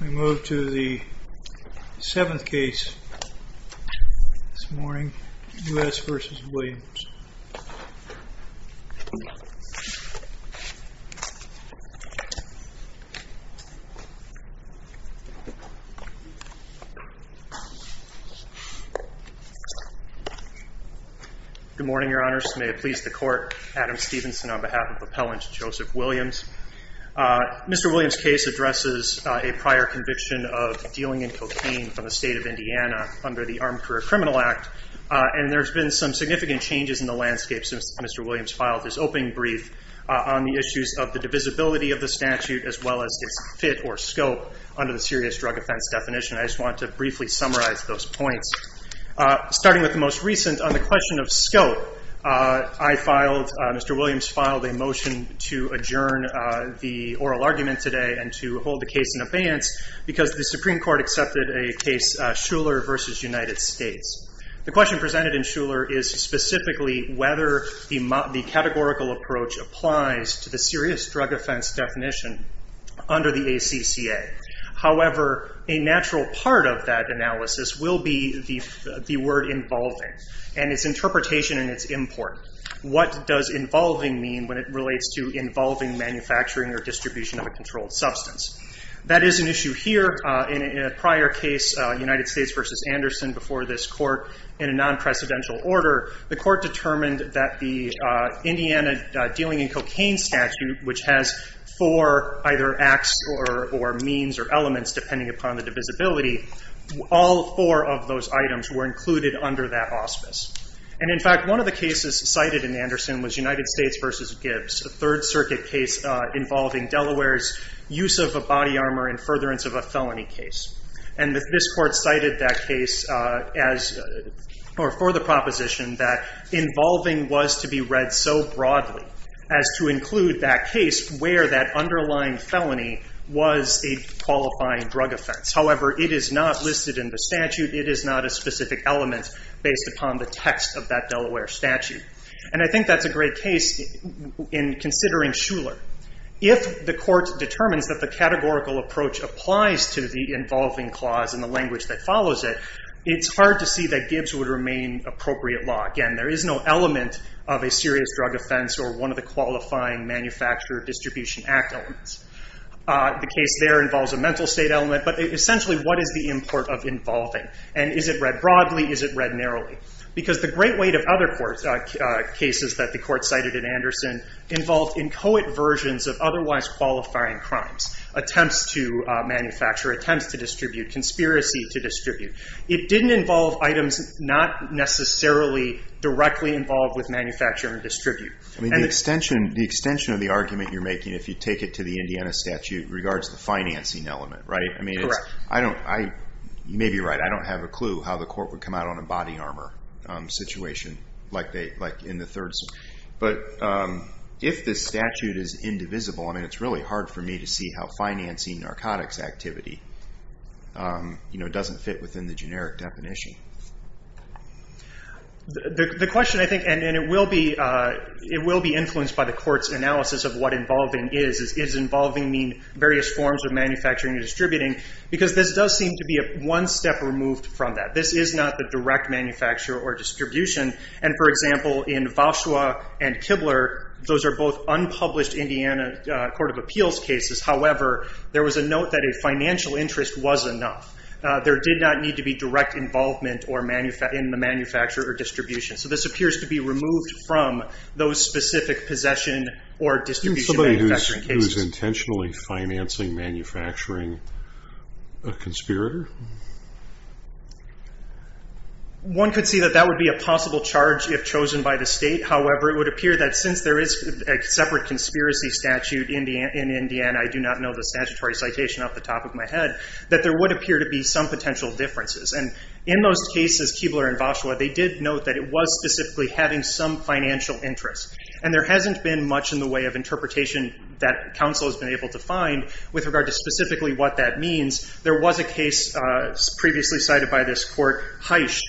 We move to the seventh case this morning, U.S. v. Williams. Good morning, Your Honors. May it please the Court, Adam Stevenson on behalf of Appellant Joseph Williams. Mr. Williams' case addresses a prior conviction of dealing in cocaine from the state of Indiana under the Armed Career Criminal Act. And there's been some significant changes in the landscape since Mr. Williams filed his opening brief on the issues of the divisibility of the statute as well as its fit or scope under the serious drug offense definition. I just want to briefly summarize those points. Starting with the most recent on the question of scope, Mr. Williams filed a motion to adjourn the oral argument today and to hold the case in abeyance because the Supreme Court accepted a case, Shuler v. United States. The question presented in Shuler is specifically whether the categorical approach applies to the serious drug offense definition under the ACCA. However, a natural part of that analysis will be the word involving and its interpretation and its import. What does involving mean when it relates to involving manufacturing or distribution of a controlled substance? That is an issue here. In a prior case, United States v. Anderson, before this Court in a non-precedential order, the Court determined that the Indiana Dealing in Cocaine Statute, which has four either acts or means or elements depending upon the divisibility, all four of those items were included under that auspice. And in fact, one of the cases cited in Anderson was United States v. Gibbs, a Third Circuit case involving Delaware's use of a body armor in furtherance of a felony case. And this Court cited that case as or for the proposition that involving was to be read so broadly as to include that case where that underlying felony was a qualifying drug offense. However, it is not listed in the statute. It is not a specific element based upon the text of that Delaware statute. And I think that's a great case in considering Shuler. If the Court determines that the categorical approach applies to the involving clause in the language that follows it, it's hard to see that Gibbs would remain appropriate law. Again, there is no element of a serious drug offense or one of the qualifying manufacturer distribution act elements. The case there involves a mental state element. But essentially, what is the import of involving? And is it read broadly? Is it read narrowly? Because the great weight of other cases that the Court cited in Anderson involved inchoate versions of otherwise qualifying crimes. Attempts to manufacture. Attempts to distribute. Conspiracy to distribute. It didn't involve items not necessarily directly involved with manufacture and distribute. I mean, the extension of the argument you're making, if you take it to the Indiana statute, regards the financing element, right? Correct. You may be right. I don't have a clue how the Court would come out on a body armor situation like in the third. But if this statute is indivisible, I mean, it's really hard for me to see how financing narcotics activity doesn't fit within the generic definition. The question, I think, and it will be influenced by the Court's analysis of what involving is. Does involving mean various forms of manufacturing and distributing? Because this does seem to be one step removed from that. This is not the direct manufacture or distribution. And, for example, in Voshua and Kibler, those are both unpublished Indiana Court of Appeals cases. However, there was a note that a financial interest was enough. There did not need to be direct involvement in the manufacture or distribution. So this appears to be removed from those specific possession or distribution manufacturing cases. Somebody who's intentionally financing manufacturing a conspirator? One could see that that would be a possible charge if chosen by the state. However, it would appear that since there is a separate conspiracy statute in Indiana, I do not know the statutory citation off the top of my head, that there would appear to be some potential differences. And in those cases, Kibler and Voshua, they did note that it was specifically having some financial interest. And there hasn't been much in the way of interpretation that counsel has been able to find with regard to specifically what that means. There was a case previously cited by this Court, Heisch,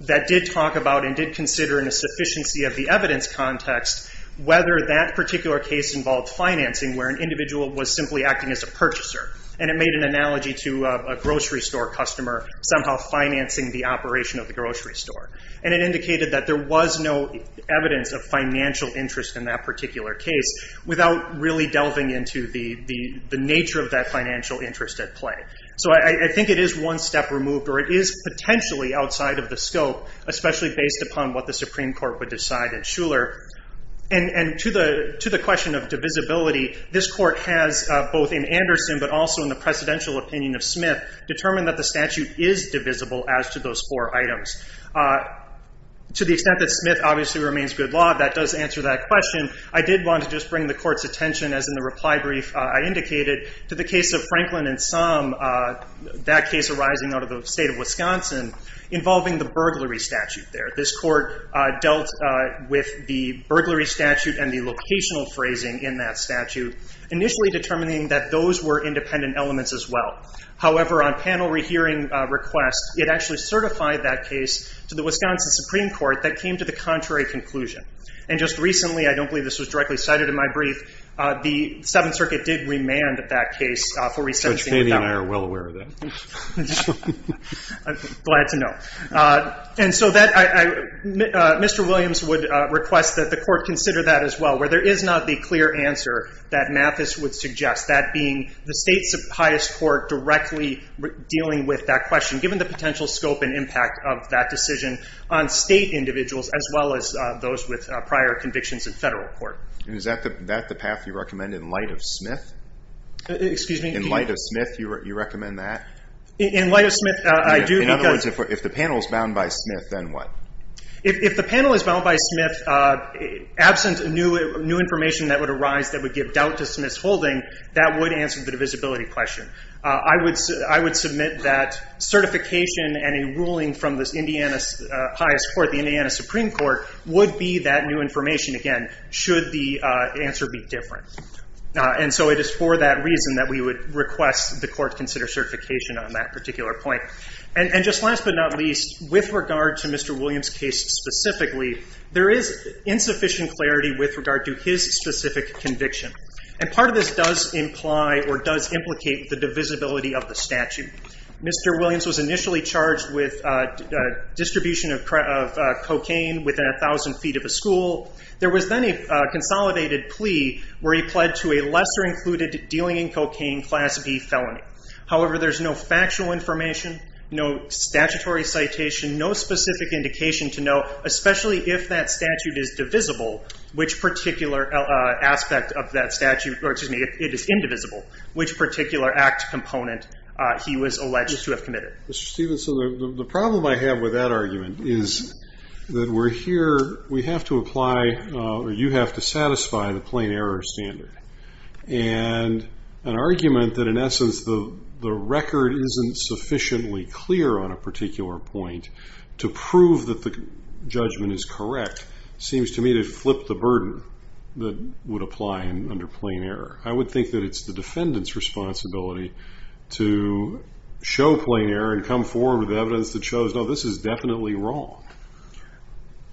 that did talk about and did consider in a sufficiency of the evidence context whether that particular case involved financing where an individual was simply acting as a purchaser. And it made an analogy to a grocery store customer somehow financing the operation of the grocery store. And it indicated that there was no evidence of financial interest in that particular case without really delving into the nature of that financial interest at play. So I think it is one step removed, or it is potentially outside of the scope, especially based upon what the Supreme Court would decide at Shuler. And to the question of divisibility, this Court has, both in Anderson but also in the presidential opinion of Smith, determined that the statute is divisible as to those four items. To the extent that Smith obviously remains good law, that does answer that question. I did want to just bring the Court's attention, as in the reply brief I indicated, to the case of Franklin and Sum, that case arising out of the state of Wisconsin, involving the burglary statute there. This Court dealt with the burglary statute and the locational phrasing in that statute, initially determining that those were independent elements as well. However, on panel rehearing requests, it actually certified that case to the Wisconsin Supreme Court that came to the contrary conclusion. And just recently, I don't believe this was directly cited in my brief, the Seventh Circuit did remand that case for resentencing of that one. Judge Paley and I are well aware of that. I'm glad to know. And so Mr. Williams would request that the Court consider that as well, where there is not the clear answer that Mathis would suggest, that being the state's highest court directly dealing with that question, given the potential scope and impact of that decision on state individuals as well as those with prior convictions in federal court. And is that the path you recommend in light of Smith? Excuse me? In light of Smith, you recommend that? In light of Smith, I do. In other words, if the panel is bound by Smith, then what? If the panel is bound by Smith, absent new information that would arise that would give doubt to Smith's holding, that would answer the divisibility question. I would submit that certification and a ruling from the highest court, the Indiana Supreme Court, would be that new information, again, should the answer be different. And so it is for that reason that we would request the Court consider certification on that particular point. And just last but not least, with regard to Mr. Williams' case specifically, there is insufficient clarity with regard to his specific conviction. And part of this does imply or does implicate the divisibility of the statute. Mr. Williams was initially charged with distribution of cocaine within 1,000 feet of a school. There was then a consolidated plea where he pled to a lesser included dealing in cocaine Class B felony. However, there's no factual information, no statutory citation, no specific indication to know, especially if that statute is divisible, which particular aspect of that statute, or excuse me, it is indivisible, which particular act component he was alleged to have committed. Mr. Stephenson, the problem I have with that argument is that we're here, we have to apply, or you have to satisfy the plain error standard. And an argument that, in essence, the record isn't sufficiently clear on a particular point to prove that the judgment is correct seems to me to flip the burden that would apply under plain error. I would think that it's the defendant's responsibility to show plain error and come forward with evidence that shows, no, this is definitely wrong.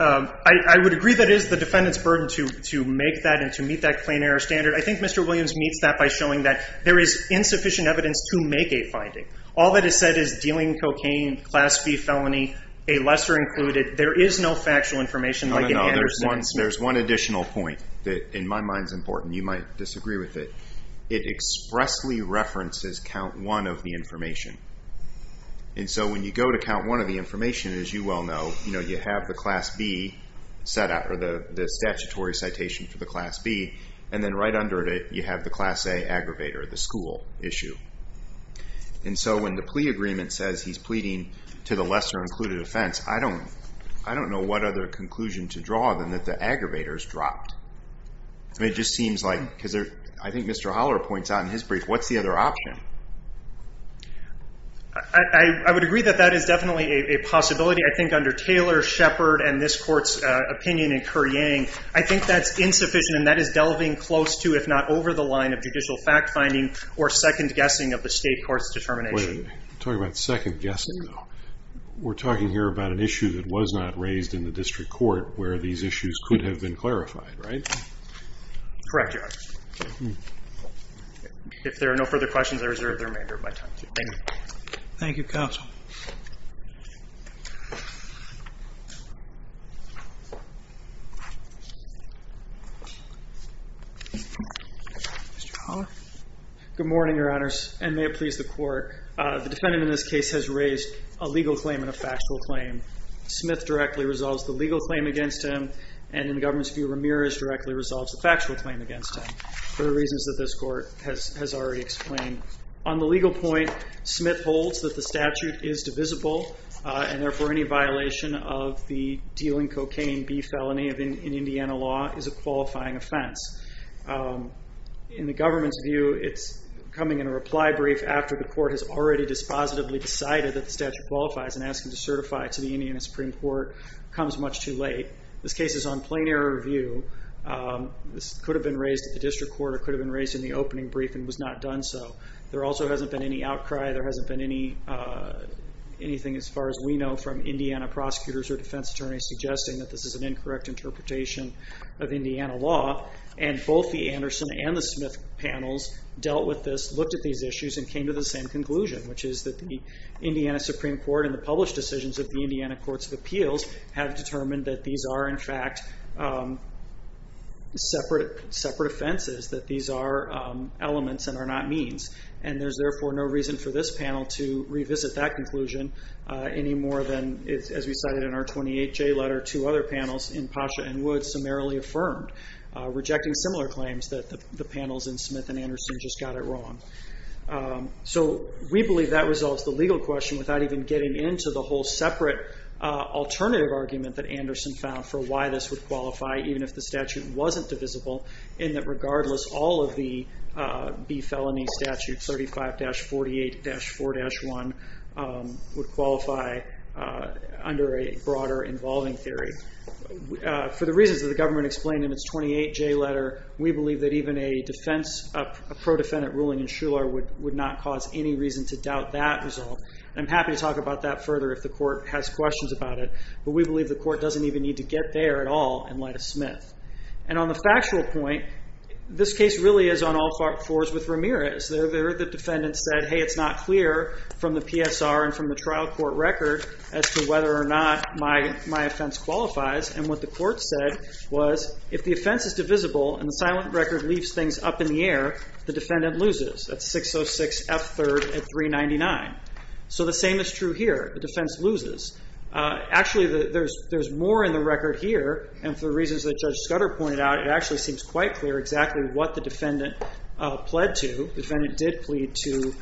I would agree that it is the defendant's burden to make that and to meet that plain error standard. I think Mr. Williams meets that by showing that there is insufficient evidence to make a finding. All that is said is dealing in cocaine Class B felony, a lesser included. There is no factual information like any other statute. There's one additional point that in my mind is important. You might disagree with it. It expressly references count one of the information. And so when you go to count one of the information, as you well know, you have the Class B set up, or the statutory citation for the Class B, and then right under it you have the Class A aggravator, the school issue. And so when the plea agreement says he's pleading to the lesser included offense, I don't know what other conclusion to draw than that the aggravator is dropped. It just seems like, because I think Mr. Holler points out in his brief, what's the other option? I would agree that that is definitely a possibility. I think under Taylor, Shepard, and this court's opinion in Kerr-Yang, I think that's insufficient and that is delving close to, if not over, the line of judicial fact-finding or second-guessing of the state court's determination. Wait a minute. You're talking about second-guessing, though. We're talking here about an issue that was not raised in the district court where these issues could have been clarified, right? Correct, Your Honor. If there are no further questions, I reserve the remainder of my time. Thank you. Thank you, Counsel. Mr. Holler? Good morning, Your Honors, and may it please the Court. The defendant in this case has raised a legal claim and a factual claim. Smith directly resolves the legal claim against him, and in the government's view, Ramirez directly resolves the factual claim against him for the reasons that this Court has already explained. On the legal point, Smith holds that the statute is divisible, and therefore any violation of the dealing cocaine bee felony in Indiana law is a qualifying offense. In the government's view, it's coming in a reply brief after the Court has already dispositively decided that the statute qualifies and asking to certify it to the Indiana Supreme Court comes much too late. This case is on plain error review. This could have been raised at the district court or could have been raised in the opening brief and was not done so. There also hasn't been any outcry. There hasn't been anything, as far as we know, from Indiana prosecutors or defense attorneys suggesting that this is an incorrect interpretation of Indiana law, and both the Anderson and the Smith panels dealt with this, looked at these issues, and came to the same conclusion, which is that the Indiana Supreme Court and the published decisions of the Indiana Courts of Appeals have determined that these are, in fact, separate offenses, that these are elements and are not means, and there's therefore no reason for this panel to revisit that conclusion any more than, as we cited in our 28J letter, two other panels in Pasha and Woods summarily affirmed, rejecting similar claims that the panels in Smith and Anderson just got it wrong. So we believe that resolves the legal question without even getting into the whole separate alternative argument that Anderson found for why this would qualify, even if the statute wasn't divisible, in that regardless, all of the B felony statutes, 35-48-4-1, would qualify under a broader involving theory. For the reasons that the government explained in its 28J letter, we believe that even a defense, a pro-defendant ruling in Shuler would not cause any reason to doubt that result. I'm happy to talk about that further if the court has questions about it, but we believe the court doesn't even need to get there at all in light of Smith. And on the factual point, this case really is on all fours with Ramirez. The defendant said, hey, it's not clear from the PSR and from the trial court record as to whether or not my offense qualifies, and what the court said was, if the offense is divisible and the silent record leaves things up in the air, the defendant loses. That's 606F3rd at 399. So the same is true here. The defense loses. Actually, there's more in the record here, and for the reasons that Judge Scudder pointed out, it actually seems quite clear exactly what the defendant pled to. The defendant did plead to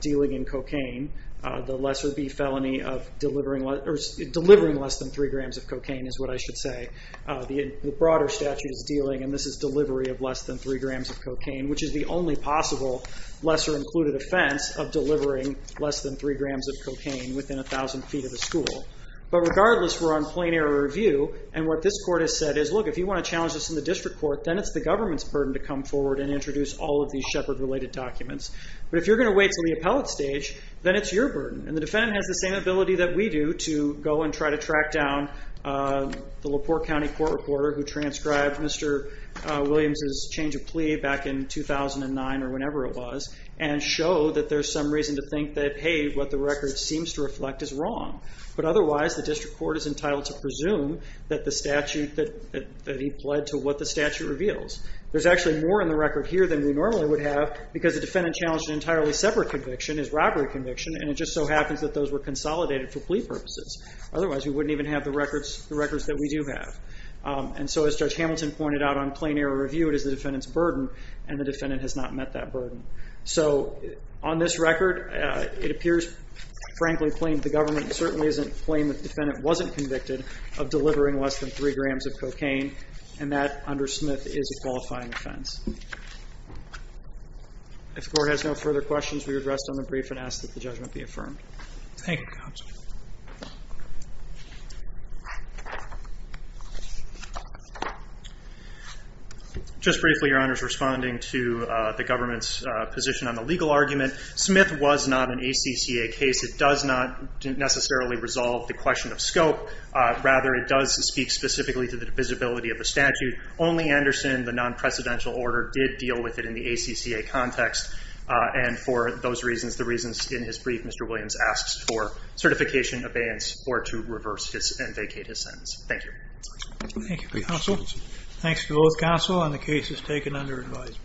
dealing in cocaine, the lesser B felony of delivering less than 3 grams of cocaine, is what I should say. The broader statute is dealing, and this is delivery of less than 3 grams of cocaine, which is the only possible lesser-included offense of delivering less than 3 grams of cocaine within 1,000 feet of the school. But regardless, we're on plain error review, and what this court has said is, look, if you want to challenge this in the district court, then it's the government's burden to come forward and introduce all of these Shepard-related documents. But if you're going to wait until the appellate stage, then it's your burden, and the defendant has the same ability that we do to go and try to track down the LaPorte County court reporter who transcribed Mr. Williams' change of plea back in 2009 or whenever it was and show that there's some reason to think that, hey, what the record seems to reflect is wrong. But otherwise, the district court is entitled to presume that he pled to what the statute reveals. There's actually more in the record here than we normally would have because the defendant challenged an entirely separate conviction, his robbery conviction, and it just so happens that those were consolidated for plea purposes. Otherwise, we wouldn't even have the records that we do have. And so as Judge Hamilton pointed out on plain error review, it is the defendant's burden, and the defendant has not met that burden. So on this record, it appears, frankly, plain, the government certainly doesn't claim that the defendant wasn't convicted of delivering less than three grams of cocaine, and that, under Smith, is a qualifying offense. If the court has no further questions, we would rest on the brief and ask that the judgment be affirmed. Thank you, counsel. Just briefly, Your Honors, responding to the government's position on the legal argument, Smith was not an ACCA case. It does not necessarily resolve the question of scope. Rather, it does speak specifically to the visibility of the statute. Only Anderson, the non-precedential order, did deal with it in the ACCA context, and for those reasons, the reasons in his brief, Mr. Williams asks for certification, abeyance, or to reverse and vacate his sentence. Thank you. Thank you, counsel. Thanks to both counsel, and the case is taken under advisement.